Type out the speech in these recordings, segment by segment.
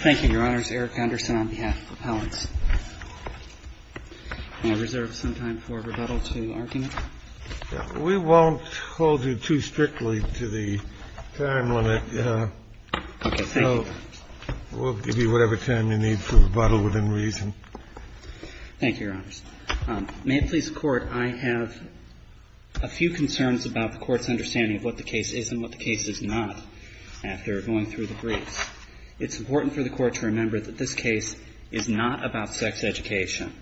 Thank you, Your Honors. Eric Anderson on behalf of Appellants. May I reserve some time for rebuttal to argument? We won't hold you too strictly to the time limit. Okay. Thank you. We'll give you whatever time you need for rebuttal within reason. Thank you, Your Honors. May it please the Court, I have a few concerns about the Court's understanding of what the case is and what the case is not, after going through the briefs. It's important for the Court to remember that this case is not about sex education.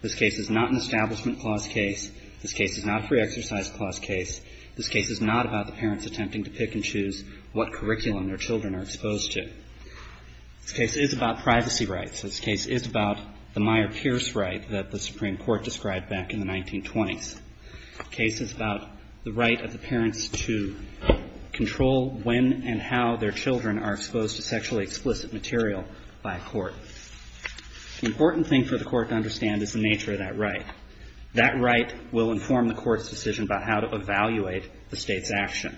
This case is not an Establishment Clause case. This case is not a Free Exercise Clause case. This case is not about the parents attempting to pick and choose what curriculum their children are exposed to. This case is about privacy rights. This case is about the Meyer-Pierce right that the Supreme Court described back in the 1920s. This case is about the right of the parents to control when and how their children are exposed to sexually explicit material by a court. The important thing for the Court to understand is the nature of that right. That right will inform the Court's decision about how to evaluate the State's action.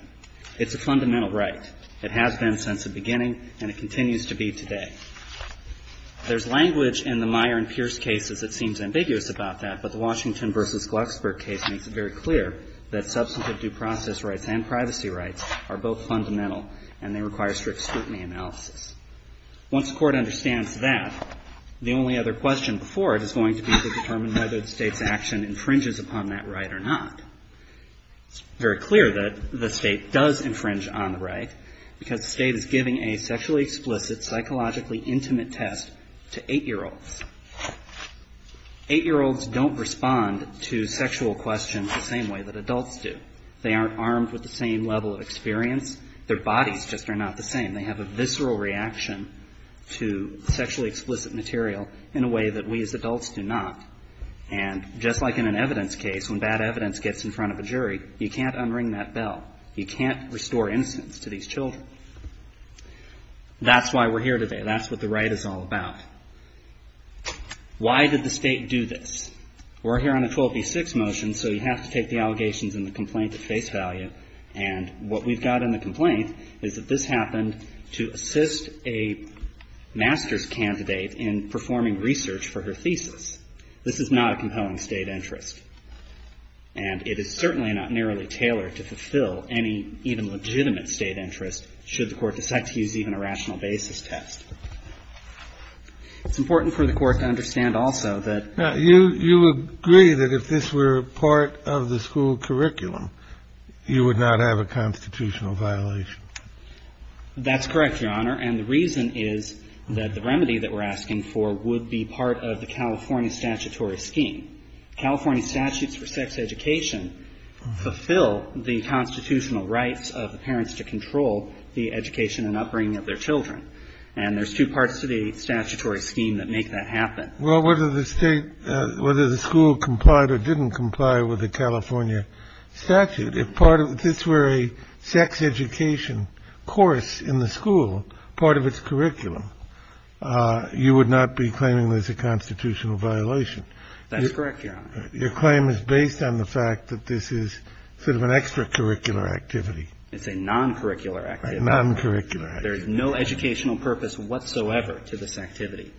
It's a fundamental right. It has been since the beginning, and it continues to be today. There's language in the Meyer and Pierce cases that seems ambiguous about that, but the Washington v. Glucksberg case makes it very clear that substantive due process rights and privacy rights are both fundamental, and they require strict scrutiny analysis. Once the Court understands that, the only other question before it is going to be to determine whether the State's action infringes upon that right or not. It's very clear that the State does infringe on the right because the State is giving a sexually explicit, psychologically intimate test to 8-year-olds. 8-year-olds don't respond to sexual questions the same way that adults do. They aren't armed with the same level of experience. Their bodies just are not the same. They have a visceral reaction to sexually explicit material in a way that we as adults do not. And just like in an evidence case, when bad evidence gets in front of a jury, you can't unring that bell. You can't restore innocence to these children. That's why we're here today. That's what the right is all about. Why did the State do this? We're here on a 12b-6 motion, so you have to take the allegations in the complaint at face value. And what we've got in the complaint is that this happened to assist a master's candidate in performing research for her thesis. This is not a compelling State interest. And it is certainly not narrowly tailored to fulfill any even legitimate State interest should the Court decide to use even a rational basis test. It's important for the Court to understand also that you agree that if this were part of the school curriculum, you would not have a constitutional violation. That's correct, Your Honor. And the reason is that the remedy that we're asking for would be part of the California statutory scheme. California statutes for sex education fulfill the constitutional rights of the parents to control the education and upbringing of their children. And there's two parts to the statutory scheme that make that happen. Well, whether the State, whether the school complied or didn't comply with the California statute, if part of this were a sex education course in the school, part of its curriculum, you would not be claiming there's a constitutional violation. That's correct, Your Honor. Your claim is based on the fact that this is sort of an extracurricular activity. It's a non-curricular activity. A non-curricular activity. There is no educational purpose whatsoever to this activity.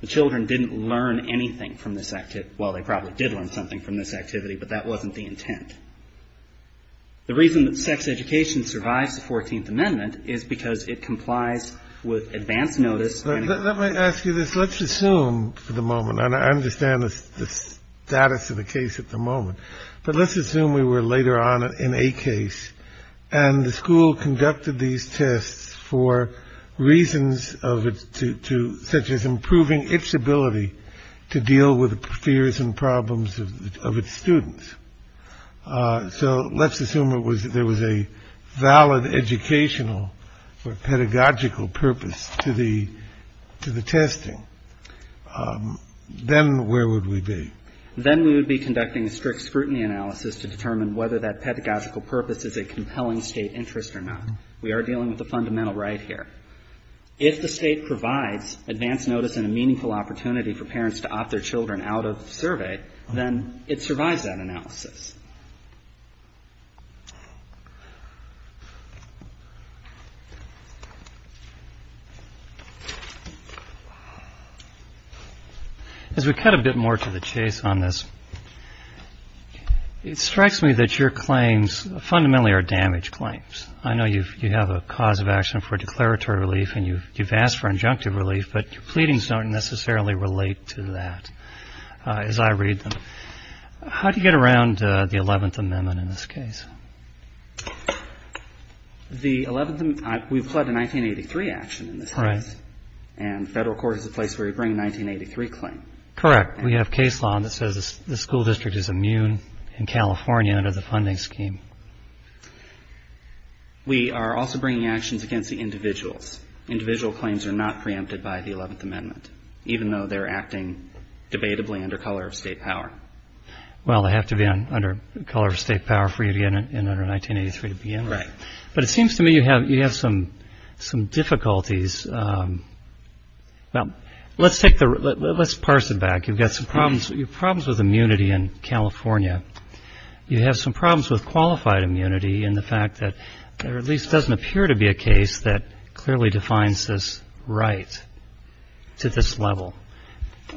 The children didn't learn anything from this activity. Well, they probably did learn something from this activity, but that wasn't the intent. The reason that sex education survives the Fourteenth Amendment is because it complies with advance notice. Let me ask you this. Let's assume for the moment, and I understand the status of the case at the moment, but let's assume we were later on in a case and the school conducted these tests for reasons of it to such as improving its ability to deal with the fears and problems of its students. So let's assume it was there was a valid educational or pedagogical purpose to the to the testing. Then where would we be? Then we would be conducting a strict scrutiny analysis to determine whether that pedagogical purpose is a compelling State interest or not. We are dealing with a fundamental right here. If the State provides advance notice and a meaningful opportunity for parents to opt their children out of survey, then it survives that analysis. As we cut a bit more to the chase on this, it strikes me that your claims fundamentally are damage claims. I know you have a cause of action for declaratory relief and you've asked for injunctive relief, but your pleadings don't necessarily relate to that as I read them. How do you get around the 11th Amendment in this case? The 11th Amendment, we've had a 1983 action in this case. Right. And federal court is the place where you bring a 1983 claim. Correct. We have case law that says the school district is immune in California under the funding scheme. We are also bringing actions against the individuals. Individual claims are not preempted by the 11th Amendment, even though they're acting debatably under color of State power. Well, they have to be under color of State power for you to get in under 1983 to begin with. Right. But it seems to me you have some difficulties. Well, let's parse it back. You've got some problems with immunity in California. You have some problems with qualified immunity in the fact that there at least doesn't appear to be a case that clearly defines this right to this level.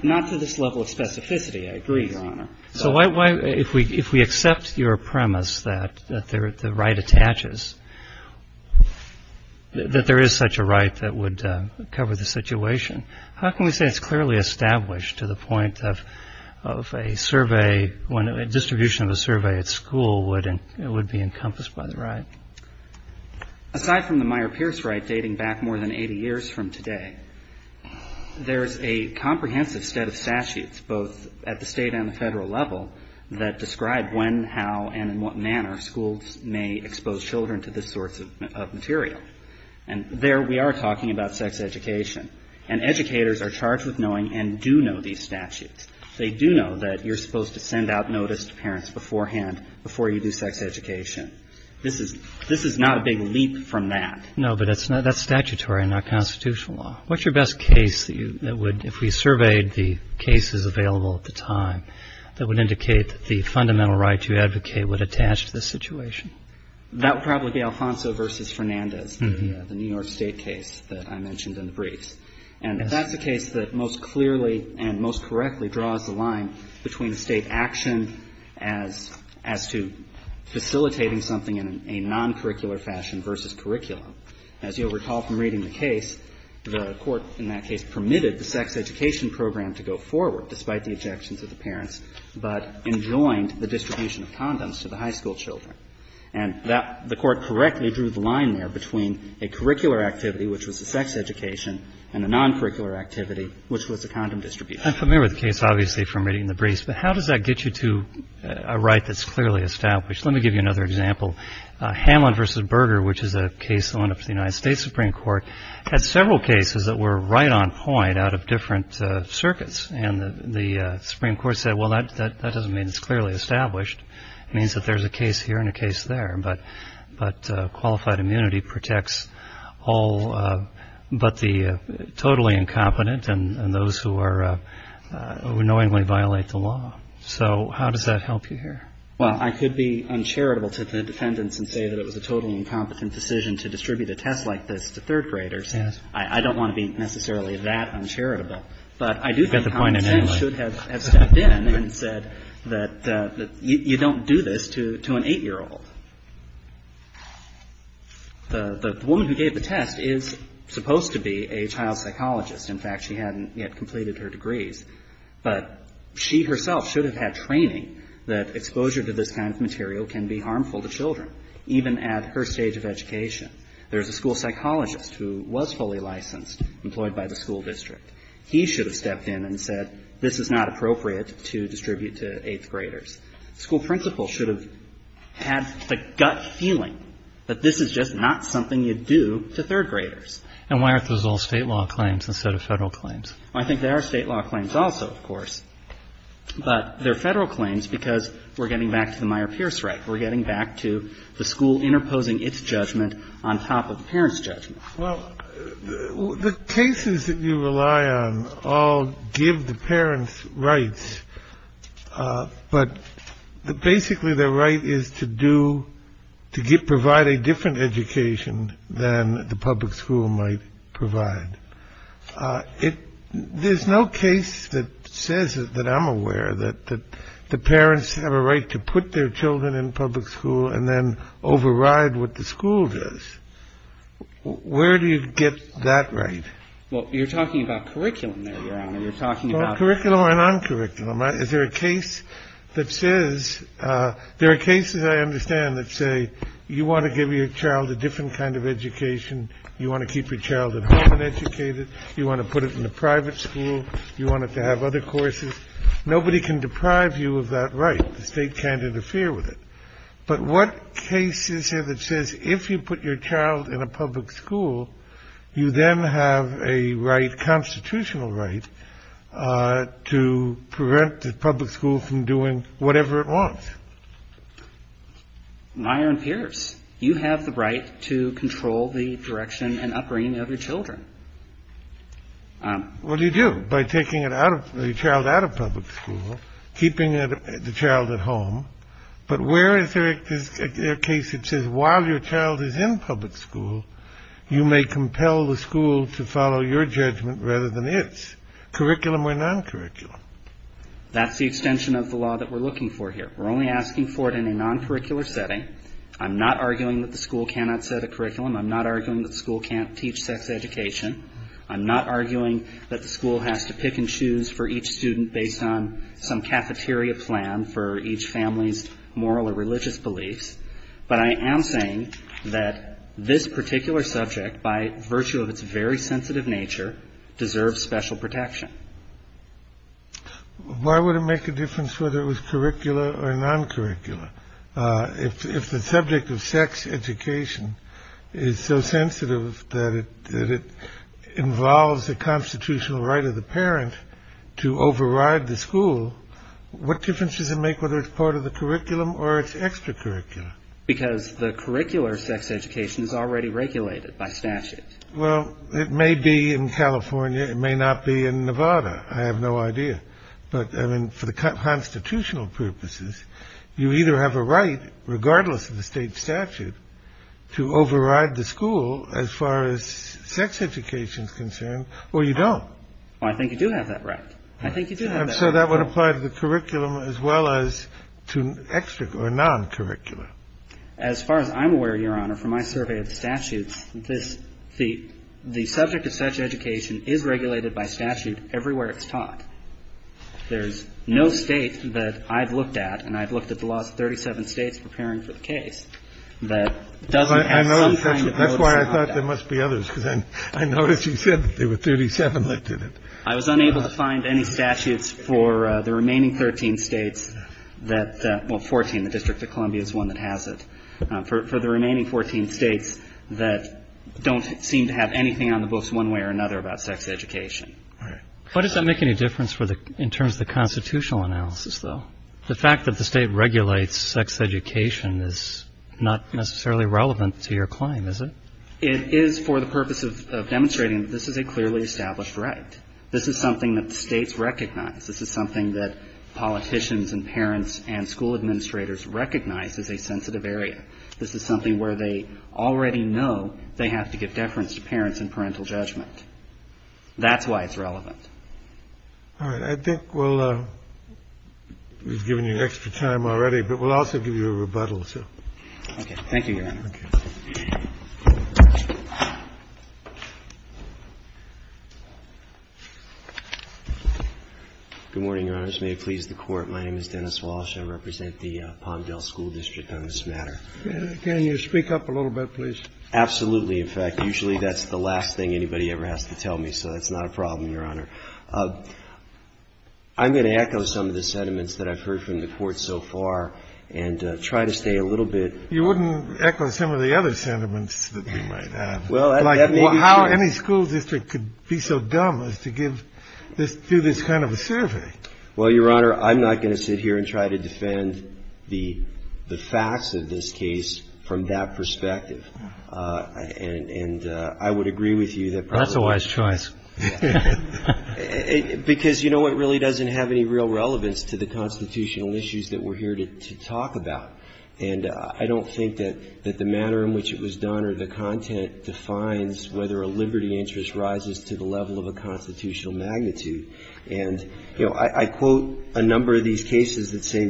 Not to this level of specificity. I agree, Your Honor. So if we accept your premise that the right attaches, that there is such a right that would cover the situation, how can we say it's clearly established to the point of a survey, when a distribution of a survey at school would be encompassed by the right? Aside from the Meyer-Pierce right dating back more than 80 years from today, there's a comprehensive set of statutes, both at the state and the federal level, that describe when, how, and in what manner schools may expose children to this sort of material. And there we are talking about sex education. And educators are charged with knowing and do know these statutes. They do know that you're supposed to send out notice to parents beforehand before you do sex education. This is not a big leap from that. No, but that's statutory and not constitutional law. What's your best case that would, if we surveyed the cases available at the time, that would indicate that the fundamental right you advocate would attach to this situation? That would probably be Alfonso v. Fernandez, the New York State case that I mentioned in the briefs. And that's a case that most clearly and most correctly draws the line between state action as to facilitating something in a non-curricular fashion versus curriculum. As you'll recall from reading the case, the Court in that case permitted the sex education program to go forward, despite the objections of the parents, but enjoined the distribution of condoms to the high school children. And that the Court correctly drew the line there between a curricular activity, which was the sex education, and a non-curricular activity, which was the condom distribution. I'm familiar with the case, obviously, from reading the briefs. But how does that get you to a right that's clearly established? Let me give you another example. Hamlin v. Berger, which is a case that went up to the United States Supreme Court, had several cases that were right on point out of different circuits. And the Supreme Court said, well, that doesn't mean it's clearly established. It means that there's a case here and a case there. But qualified immunity protects all but the totally incompetent and those who knowingly violate the law. So how does that help you here? Well, I could be uncharitable to the defendants and say that it was a totally incompetent decision to distribute a test like this to third graders. I don't want to be necessarily that uncharitable. But I do think Hamlin should have stepped in and said that you don't do this to an 8-year-old. The woman who gave the test is supposed to be a child psychologist. In fact, she hadn't yet completed her degrees. But she herself should have had training that exposure to this kind of material can be harmful to children, even at her stage of education. There's a school psychologist who was fully licensed, employed by the school district. He should have stepped in and said this is not appropriate to distribute to 8th graders. The school principal should have had the gut feeling that this is just not something you do to third graders. And why aren't those all State law claims instead of Federal claims? I think they are State law claims also, of course. But they're Federal claims because we're getting back to the Meyer-Pierce right. We're getting back to the school interposing its judgment on top of the parents' judgment. Well, the cases that you rely on all give the parents rights. But basically, their right is to provide a different education than the public school might provide. There's no case that says that I'm aware that the parents have a right to put their children in public school and then override what the school does. Where do you get that right? Well, you're talking about curriculum there, Your Honor. You're talking about curriculum or non-curriculum. Is there a case that says there are cases I understand that say you want to give your child a different kind of education. You want to keep your child at home and educated. You want to put it in a private school. You want it to have other courses. Nobody can deprive you of that right. The State can't interfere with it. But what cases have it says if you put your child in a public school, you then have a right, constitutional right, to prevent the public school from doing whatever it wants? Meyer and Pierce, you have the right to control the direction and upbringing of your children. What do you do by taking your child out of public school, keeping the child at home? But where is there a case that says while your child is in public school, you may compel the school to follow your judgment rather than its? Curriculum or non-curriculum? That's the extension of the law that we're looking for here. We're only asking for it in a non-curricular setting. I'm not arguing that the school cannot set a curriculum. I'm not arguing that school can't teach sex education. I'm not arguing that the school has to pick and choose for each student based on some cafeteria plan for each family's moral or religious beliefs. But I am saying that this particular subject, by virtue of its very sensitive nature, deserves special protection. Why would it make a difference whether it was curricular or non-curricular? If the subject of sex education is so sensitive that it involves the constitutional right of the parent to override the school, what difference does it make whether it's part of the curriculum or its extracurricular? Because the curricular sex education is already regulated by statute. Well, it may be in California. It may not be in Nevada. I have no idea. But, I mean, for the constitutional purposes, you either have a right, regardless of the state statute, to override the school as far as sex education is concerned, or you don't. Well, I think you do have that right. I think you do have that right. And so that would apply to the curriculum as well as to extracurricular or non-curricular. As far as I'm aware, Your Honor, from my survey of the statutes, the subject of sex education is regulated by statute everywhere it's taught. There's no state that I've looked at, and I've looked at the last 37 states preparing for the case, that doesn't have some kind of notice. That's why I thought there must be others, because I noticed you said that there were 37 that did it. I was unable to find any statutes for the remaining 13 states that – well, 14. The District of Columbia is one that has it. For the remaining 14 states that don't seem to have anything on the books one way or another about sex education. All right. Why does that make any difference in terms of the constitutional analysis, though? The fact that the state regulates sex education is not necessarily relevant to your claim, is it? It is for the purpose of demonstrating that this is a clearly established right. This is something that the states recognize. This is something that politicians and parents and school administrators recognize as a sensitive area. This is something where they already know they have to give deference to parents in parental judgment. That's why it's relevant. All right. I think we'll – we've given you extra time already, but we'll also give you a rebuttal, so. Okay. Thank you, Your Honor. Thank you. Good morning, Your Honors. May it please the Court. My name is Dennis Walsh. I represent the Palmdale School District on this matter. Can you speak up a little bit, please? Absolutely. In fact, usually that's the last thing anybody ever has to tell me, so that's not a problem, Your Honor. I'm going to echo some of the sentiments that I've heard from the Court so far and try to stay a little bit. You wouldn't echo some of the other sentiments that we might have. Well, that may be true. Like how any school district could be so dumb as to give this – do this kind of a survey. Well, Your Honor, I'm not going to sit here and try to defend the facts of this case from that perspective. And I would agree with you that probably – That's a wise choice. Because, you know, it really doesn't have any real relevance to the constitutional issues that we're here to talk about. And I don't think that the manner in which it was done or the content defines whether a liberty interest rises to the level of a constitutional magnitude. And, you know, I quote a number of these cases that say,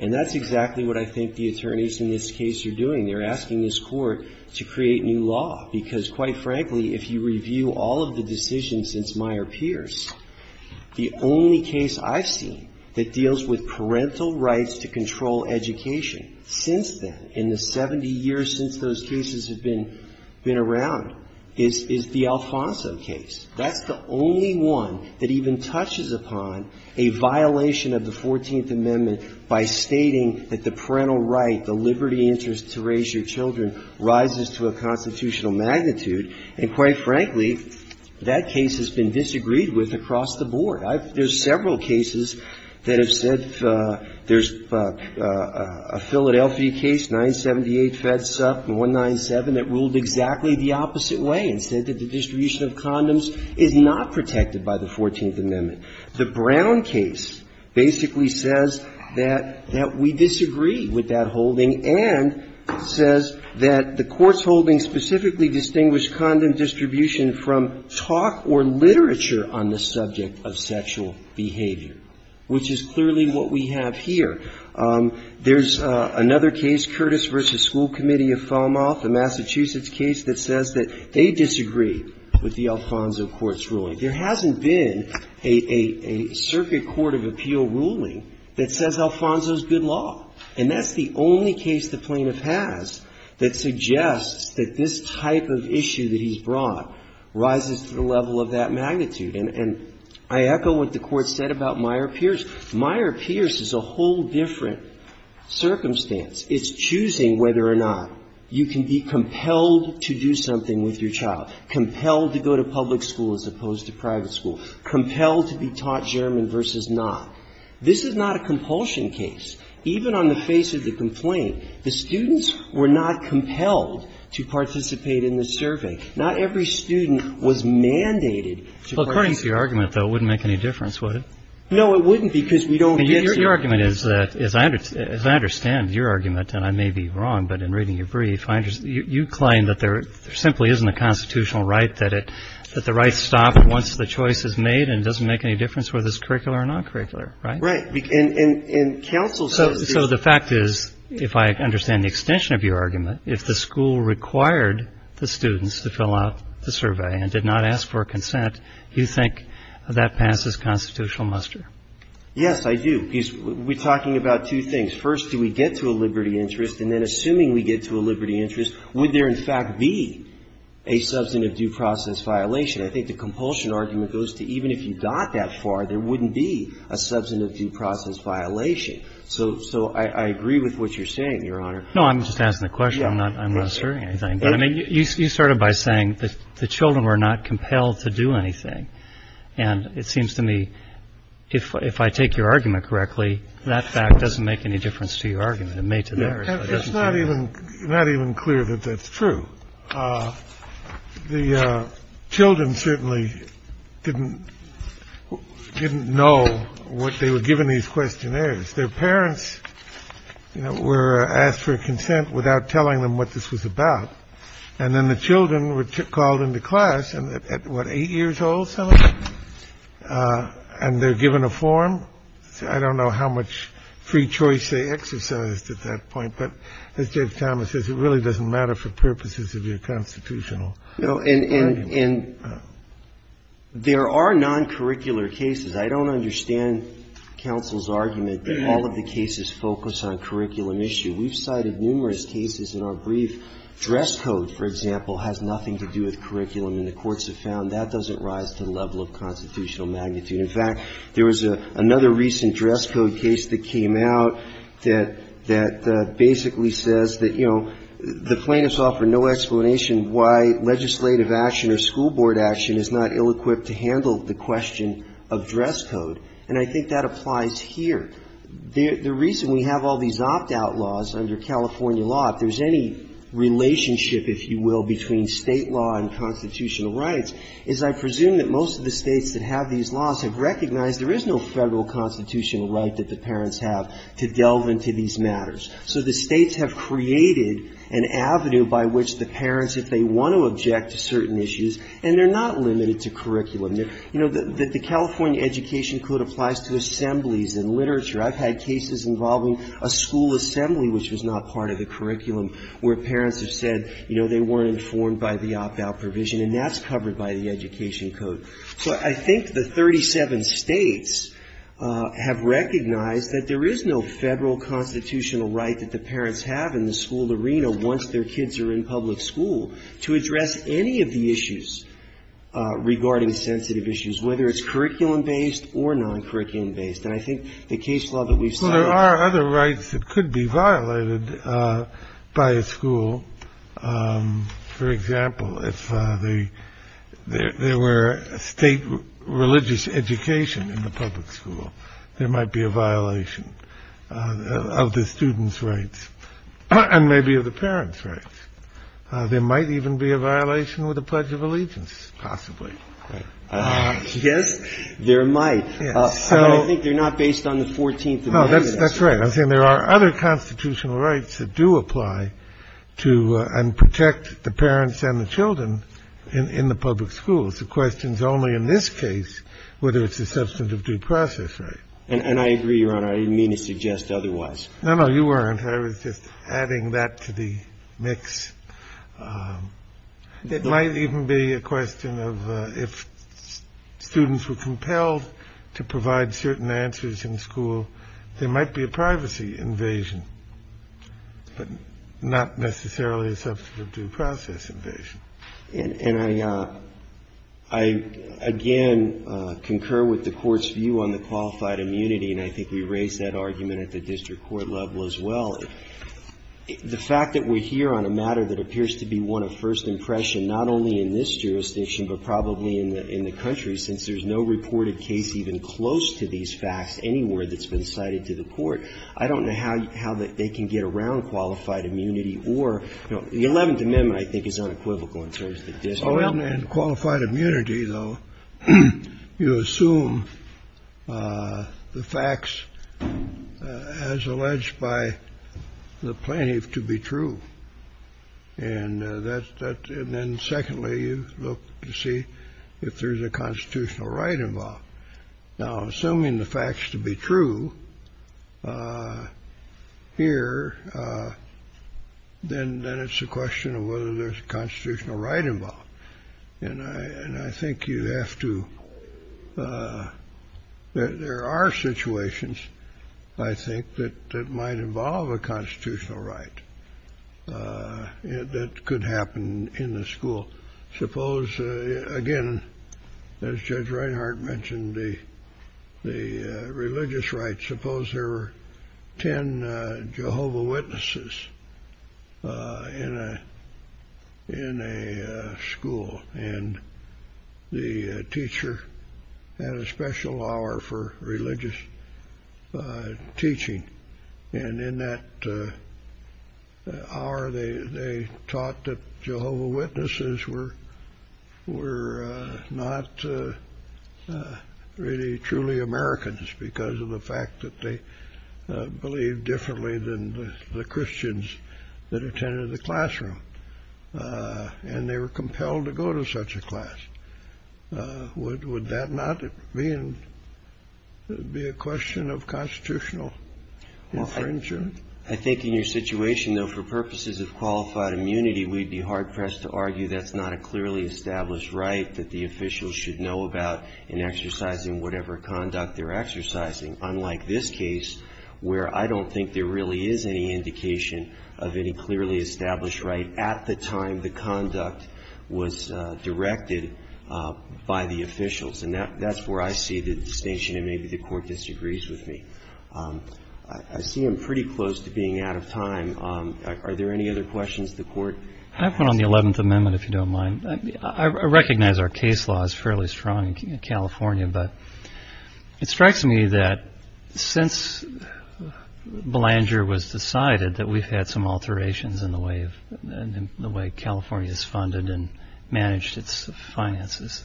And that's exactly what I think the attorneys in this case are doing. They're asking this Court to create new law. Because, quite frankly, if you review all of the decisions since Meyer Pierce, the only case I've seen that deals with parental rights to control education since then, in the 70 years since those two cases, is the one that I've seen. cases have been around is the Alfonso case. That's the only one that even touches upon a violation of the 14th Amendment by stating that the parental right, the liberty interest to raise your children, rises to a constitutional magnitude. And, quite frankly, that case has been disagreed with across the board. There's several cases that have said there's a Philadelphia case, 978, FEDSUP, and 197, that ruled exactly the opposite way and said that the distribution of condoms is not protected by the 14th Amendment. The Brown case basically says that we disagree with that holding and says that the Court's holding specifically distinguished from talk or literature on the subject of sexual behavior, which is clearly what we have here. There's another case, Curtis v. School Committee of Falmouth, a Massachusetts case, that says that they disagree with the Alfonso Court's ruling. There hasn't been a circuit court of appeal ruling that says Alfonso's good law. And that's the only case the plaintiff has that suggests that this type of issue that he's brought rises to the level of that magnitude. And I echo what the Court said about Meyer-Pierce. Meyer-Pierce is a whole different circumstance. It's choosing whether or not you can be compelled to do something with your child, compelled to go to public school as opposed to private school, compelled to be taught German versus not. This is not a compulsion case. Even on the face of the complaint, the students were not compelled to participate in the survey. Not every student was mandated to participate. Well, according to your argument, though, it wouldn't make any difference, would it? No, it wouldn't, because we don't get to. And your argument is that as I understand your argument, and I may be wrong, but in reading your brief, you claim that there simply isn't a constitutional right, that the right's stopped once the choice is made and it doesn't make any difference whether it's curricular or non-curricular, right? So the fact is, if I understand the extension of your argument, if the school required the students to fill out the survey and did not ask for consent, you think that passes constitutional muster? Yes, I do. We're talking about two things. First, do we get to a liberty interest? And then assuming we get to a liberty interest, would there in fact be a substantive due process violation? I think the compulsion argument goes to even if you got that far, there wouldn't be a substantive due process violation. So I agree with what you're saying, Your Honor. No, I'm just asking the question. I'm not asserting anything. But, I mean, you started by saying that the children were not compelled to do anything. And it seems to me, if I take your argument correctly, that fact doesn't make any difference to your argument. It made to theirs. It's not even clear that that's true. So the children certainly didn't didn't know what they were given these questionnaires. Their parents were asked for consent without telling them what this was about. And then the children were called into class at what, eight years old. And they're given a form. I don't know how much free choice they exercised at that point. But as James Thomas says, it really doesn't matter for purposes of your constitutional argument. And there are non-curricular cases. I don't understand counsel's argument that all of the cases focus on curriculum issue. We've cited numerous cases in our brief. Dress code, for example, has nothing to do with curriculum. And the courts have found that doesn't rise to the level of constitutional magnitude. In fact, there was another recent dress code case that came out that basically says that, you know, the plaintiffs offer no explanation why legislative action or school board action is not ill-equipped to handle the question of dress code. And I think that applies here. The reason we have all these opt-out laws under California law, if there's any relationship, if you will, between State law and constitutional rights, is I presume that most of the States have recognized there is no Federal constitutional right that the parents have to delve into these matters. So the States have created an avenue by which the parents, if they want to object to certain issues, and they're not limited to curriculum. You know, the California Education Code applies to assemblies and literature. I've had cases involving a school assembly which was not part of the curriculum where parents have said, you know, they weren't informed by the opt-out provision, and that's covered by the Education Code. So I think the 37 States have recognized that there is no Federal constitutional right that the parents have in the school arena once their kids are in public school to address any of the issues regarding sensitive issues, whether it's curriculum-based or non-curriculum-based. And I think the case law that we've cited here goes back to that. State religious education in the public school, there might be a violation of the students' rights and maybe of the parents' rights. There might even be a violation with the Pledge of Allegiance, possibly. Yes, there might. But I think they're not based on the 14th Amendment. No, that's right. I think there are other constitutional rights that do apply to and protect the parents and the children in the public schools. The question is only in this case whether it's a substantive due process right. And I agree, Your Honor. I didn't mean to suggest otherwise. No, no, you weren't. I was just adding that to the mix. It might even be a question of if students were compelled to provide certain answers in school, there might be a privacy invasion, but not necessarily a substantive due process invasion. And I, again, concur with the Court's view on the qualified immunity. And I think we raised that argument at the district court level as well. The fact that we're here on a matter that appears to be one of first impression not only in this jurisdiction, but probably in the country, since there's no reported case even close to these facts anywhere that's been cited to the Court, I don't know how they can get around qualified immunity or, you know, the 11th Amendment, I think, is unequivocal in terms of the district court. In qualified immunity, though, you assume the facts as alleged by the plaintiff to be true. And that's that. And then, secondly, you look to see if there's a constitutional right involved. Now, assuming the facts to be true here, then it's a question of whether there's a constitutional right involved. And I think you have to – there are situations, I think, that might involve a constitutional right that could happen in the school. Suppose, again, as Judge Reinhart mentioned, the religious rights. Suppose there were 10 Jehovah Witnesses in a school, and the teacher had a special hour for religious teaching. And in that hour, they taught that Jehovah Witnesses were not really truly Americans because of the fact that they believed differently than the Christians that attended the classroom. And they were compelled to go to such a class. Would that not be a question of constitutional infringement? I think in your situation, though, for purposes of qualified immunity, we'd be hard-pressed to argue that's not a clearly established right that the officials should know about in exercising whatever conduct they're exercising, unlike this case, where I don't think there really is any indication of any clearly established right at the time the conduct was directed by the officials. And that's where I see the distinction, and maybe the Court disagrees with me. I see I'm pretty close to being out of time. Are there any other questions of the Court? I have one on the Eleventh Amendment, if you don't mind. I recognize our case law is fairly strong in California, but it strikes me that since Belanger was decided that we've had some alterations in the way California is funded and managed its finances.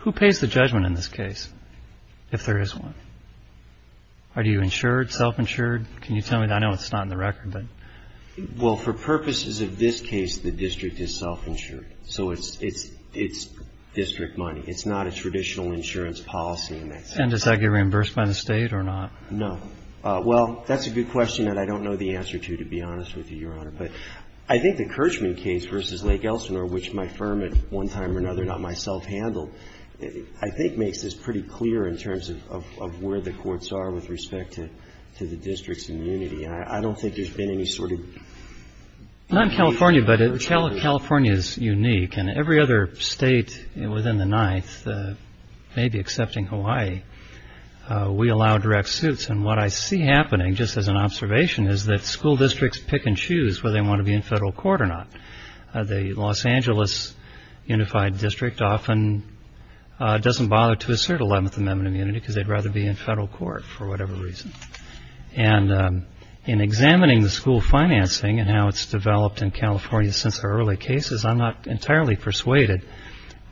Who pays the judgment in this case, if there is one? Are you insured, self-insured? Can you tell me? I know it's not in the record. Well, for purposes of this case, the district is self-insured. So it's district money. It's not a traditional insurance policy. And does that get reimbursed by the state or not? No. Well, that's a good question that I don't know the answer to, to be honest with you, Your Honor. But I think the Kirchman case versus Lake Elsinore, which my firm at one time or another, not myself, handled, I think makes this pretty clear in terms of where the courts are with respect to the district's immunity. And I don't think there's been any sort of... Not in California, but California is unique. And every other state within the Ninth, maybe excepting Hawaii, we allow direct suits. And what I see happening, just as an observation, is that school districts pick and choose whether they want to be in federal court or not. The Los Angeles Unified District often doesn't bother to assert Eleventh Amendment immunity because they'd rather be in federal court for whatever reason. And in examining the school financing and how it's developed in California since the early cases, I'm not entirely persuaded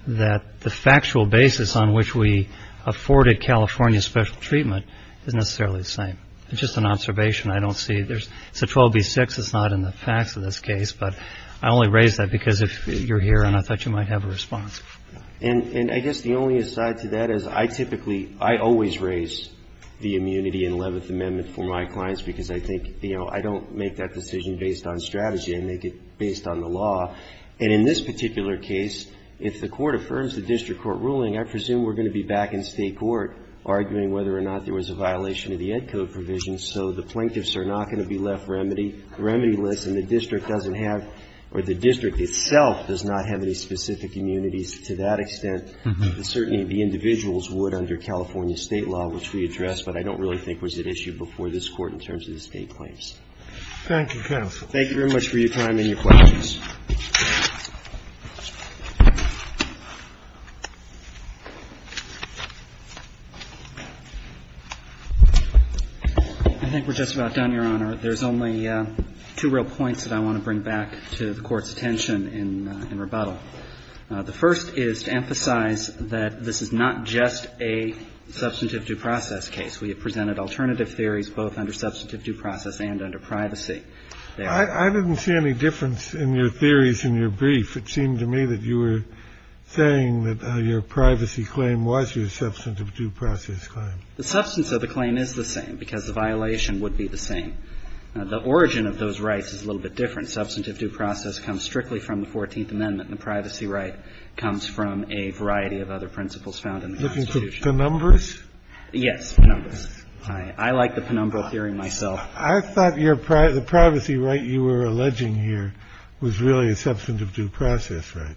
that the factual basis on which we afforded California special treatment is necessarily the same. It's just an observation. I don't see there's... It's a 12B6. It's not in the facts of this case. But I only raise that because you're here and I thought you might have a response. And I guess the only aside to that is I typically, I always raise the immunity in Eleventh Amendment for my clients because I think, you know, I don't make that decision based on strategy. I make it based on the law. And in this particular case, if the Court affirms the district court ruling, I presume we're going to be back in State court arguing whether or not there was a violation of the Ed Code provision. So the plaintiffs are not going to be left remedyless and the district doesn't have, or the district itself does not have any specific immunities to that extent. Certainly, the individuals would under California State law, which we addressed, but I don't really think was at issue before this Court in terms of the State claims. Thank you, counsel. Thank you very much for your time and your questions. I think we're just about done, Your Honor. There's only two real points that I want to bring back to the Court's attention in rebuttal. The first is to emphasize that this is not just a substantive due process case. We have presented alternative theories both under substantive due process and under privacy. I didn't see any difference in your theories in your brief. It seemed to me that you were saying that your privacy claim was your substantive due process claim. The substance of the claim is the same because the violation would be the same. The origin of those rights is a little bit different. Substantive due process comes strictly from the 14th Amendment and the privacy right comes from a variety of other principles found in the Constitution. Looking for penumbras? Yes, penumbras. I like the penumbral theory myself. Well, I thought the privacy right you were alleging here was really a substantive due process right.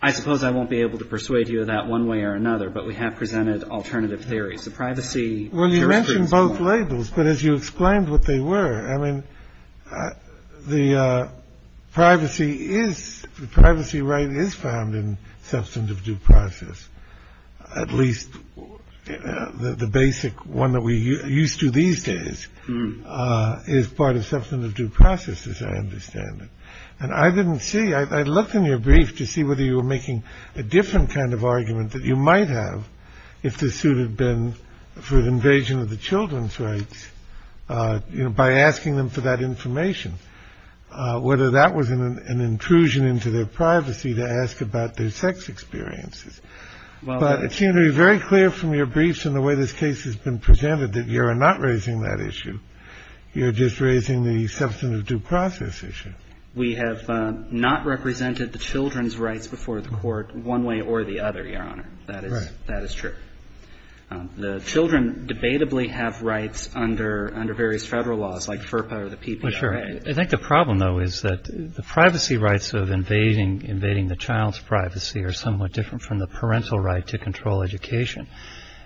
I suppose I won't be able to persuade you of that one way or another, but we have presented alternative theories. Well, you mentioned both labels, but as you explained what they were, I mean, the privacy right is found in substantive due process, at least the basic one that we used to these days is part of substantive due process as I understand it. And I didn't see, I looked in your brief to see whether you were making a different kind of argument that you might have if the suit had been for the invasion of the children's rights, you know, by asking them for that information, whether that was an intrusion into their privacy to ask about their sex experiences. But it seemed to be very clear from your briefs and the way this case has been presented that you are not raising that issue. You're just raising the substantive due process issue. We have not represented the children's rights before the court one way or the other, Your Honor. That is true. The children debatably have rights under various Federal laws like FERPA or the PPRA. Well, sure. I think the problem, though, is that the privacy rights of invading the child's parental right to control education.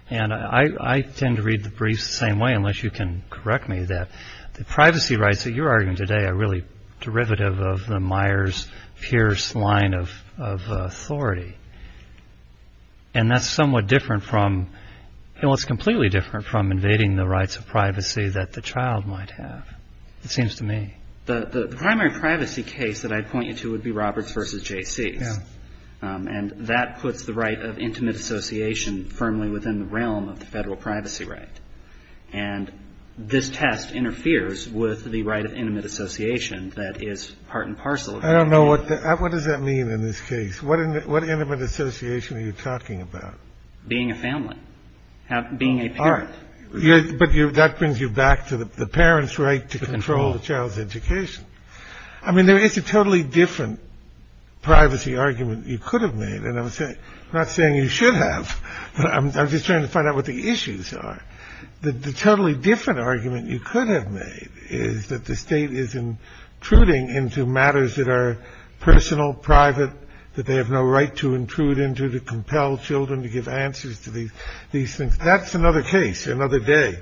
And I tend to read the briefs the same way, unless you can correct me, that the privacy rights that you're arguing today are really derivative of the Myers-Pierce line of authority. And that's somewhat different from, well, it's completely different from invading the rights of privacy that the child might have, it seems to me. The primary privacy case that I'd point you to would be Roberts v. J.C.'s. Yeah. And that puts the right of intimate association firmly within the realm of the Federal privacy right. And this test interferes with the right of intimate association that is part and parcel. I don't know. What does that mean in this case? What intimate association are you talking about? Being a family. Being a parent. All right. But that brings you back to the parent's right to control the child's education. I mean, it's a totally different privacy argument. You could have made, and I'm not saying you should have, but I'm just trying to find out what the issues are. The totally different argument you could have made is that the State is intruding into matters that are personal, private, that they have no right to intrude into to compel children to give answers to these things. That's another case, another day.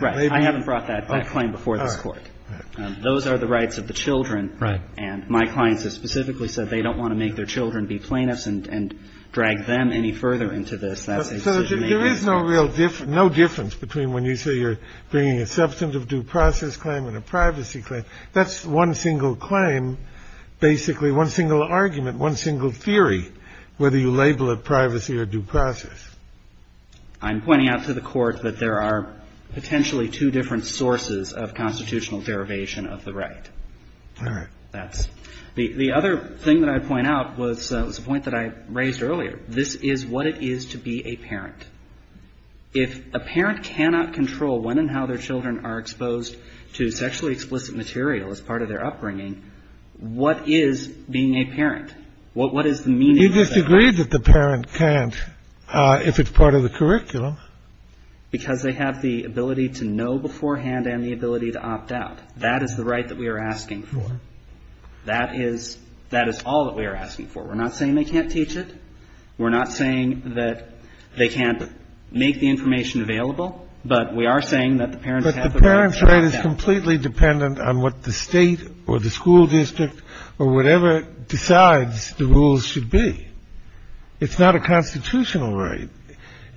Right. I haven't brought that claim before this Court. Those are the rights of the children. Right. And my clients have specifically said they don't want to make their children be plaintiffs and drag them any further into this. So there is no real difference, no difference between when you say you're bringing a substantive due process claim and a privacy claim. That's one single claim, basically one single argument, one single theory, whether you label it privacy or due process. I'm pointing out to the Court that there are potentially two different sources of constitutional derivation of the right. All right. The other thing that I'd point out was a point that I raised earlier. This is what it is to be a parent. If a parent cannot control when and how their children are exposed to sexually explicit material as part of their upbringing, what is being a parent? What is the meaning of that? You disagreed that the parent can't if it's part of the curriculum. Because they have the ability to know beforehand and the ability to opt out. That is the right that we are asking for. That is all that we are asking for. We're not saying they can't teach it. We're not saying that they can't make the information available. But we are saying that the parents have the right to opt out. But the parent's right is completely dependent on what the state or the school district or whatever decides the rules should be. It's not a constitutional right.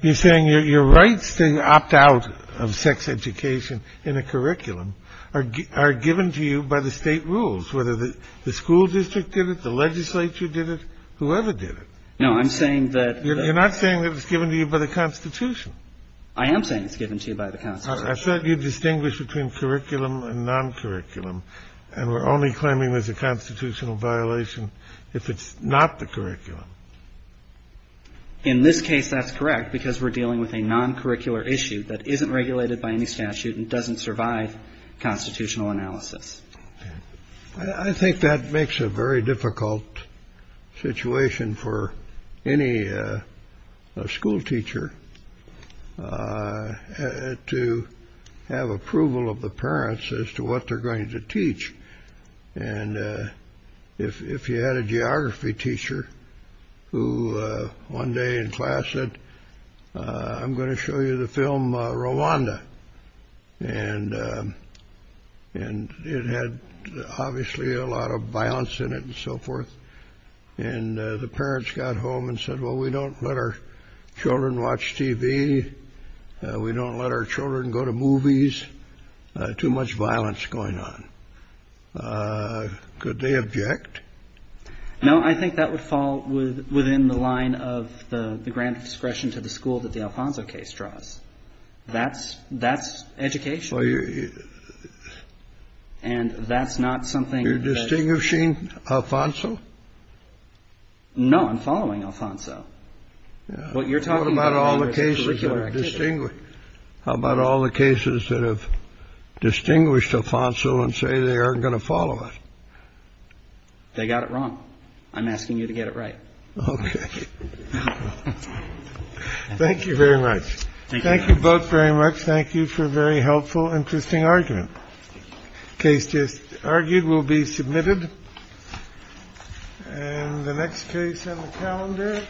You're saying your rights to opt out of sex education in a curriculum are given to you by the state rules, whether the school district did it, the legislature did it, whoever did it. No. I'm saying that. You're not saying that it's given to you by the Constitution. I am saying it's given to you by the Constitution. I thought you distinguished between curriculum and non-curriculum. And we're only claiming there's a constitutional violation if it's not the curriculum. In this case, that's correct because we're dealing with a non-curricular issue that isn't regulated by any statute and doesn't survive constitutional analysis. I think that makes a very difficult situation for any school teacher to have approval of the parents as to what they're going to teach. And if you had a geography teacher who one day in class said, I'm going to show you the film Rwanda. And it had obviously a lot of violence in it and so forth. And the parents got home and said, well, we don't let our children watch TV. We don't let our children go to movies. Too much violence going on. Could they object? No, I think that would fall within the line of the grand discretion to the school that the Alfonso case draws. That's that's education. And that's not something you're distinguishing. Alfonso. No, I'm following Alfonso. Well, you're talking about all the cases that are distinguished. How about all the cases that have distinguished Alfonso and say they aren't going to follow it? They got it wrong. I'm asking you to get it right. Okay. Thank you very much. Thank you both very much. Thank you for a very helpful, interesting argument. Case just argued will be submitted. And the next case on the calendar.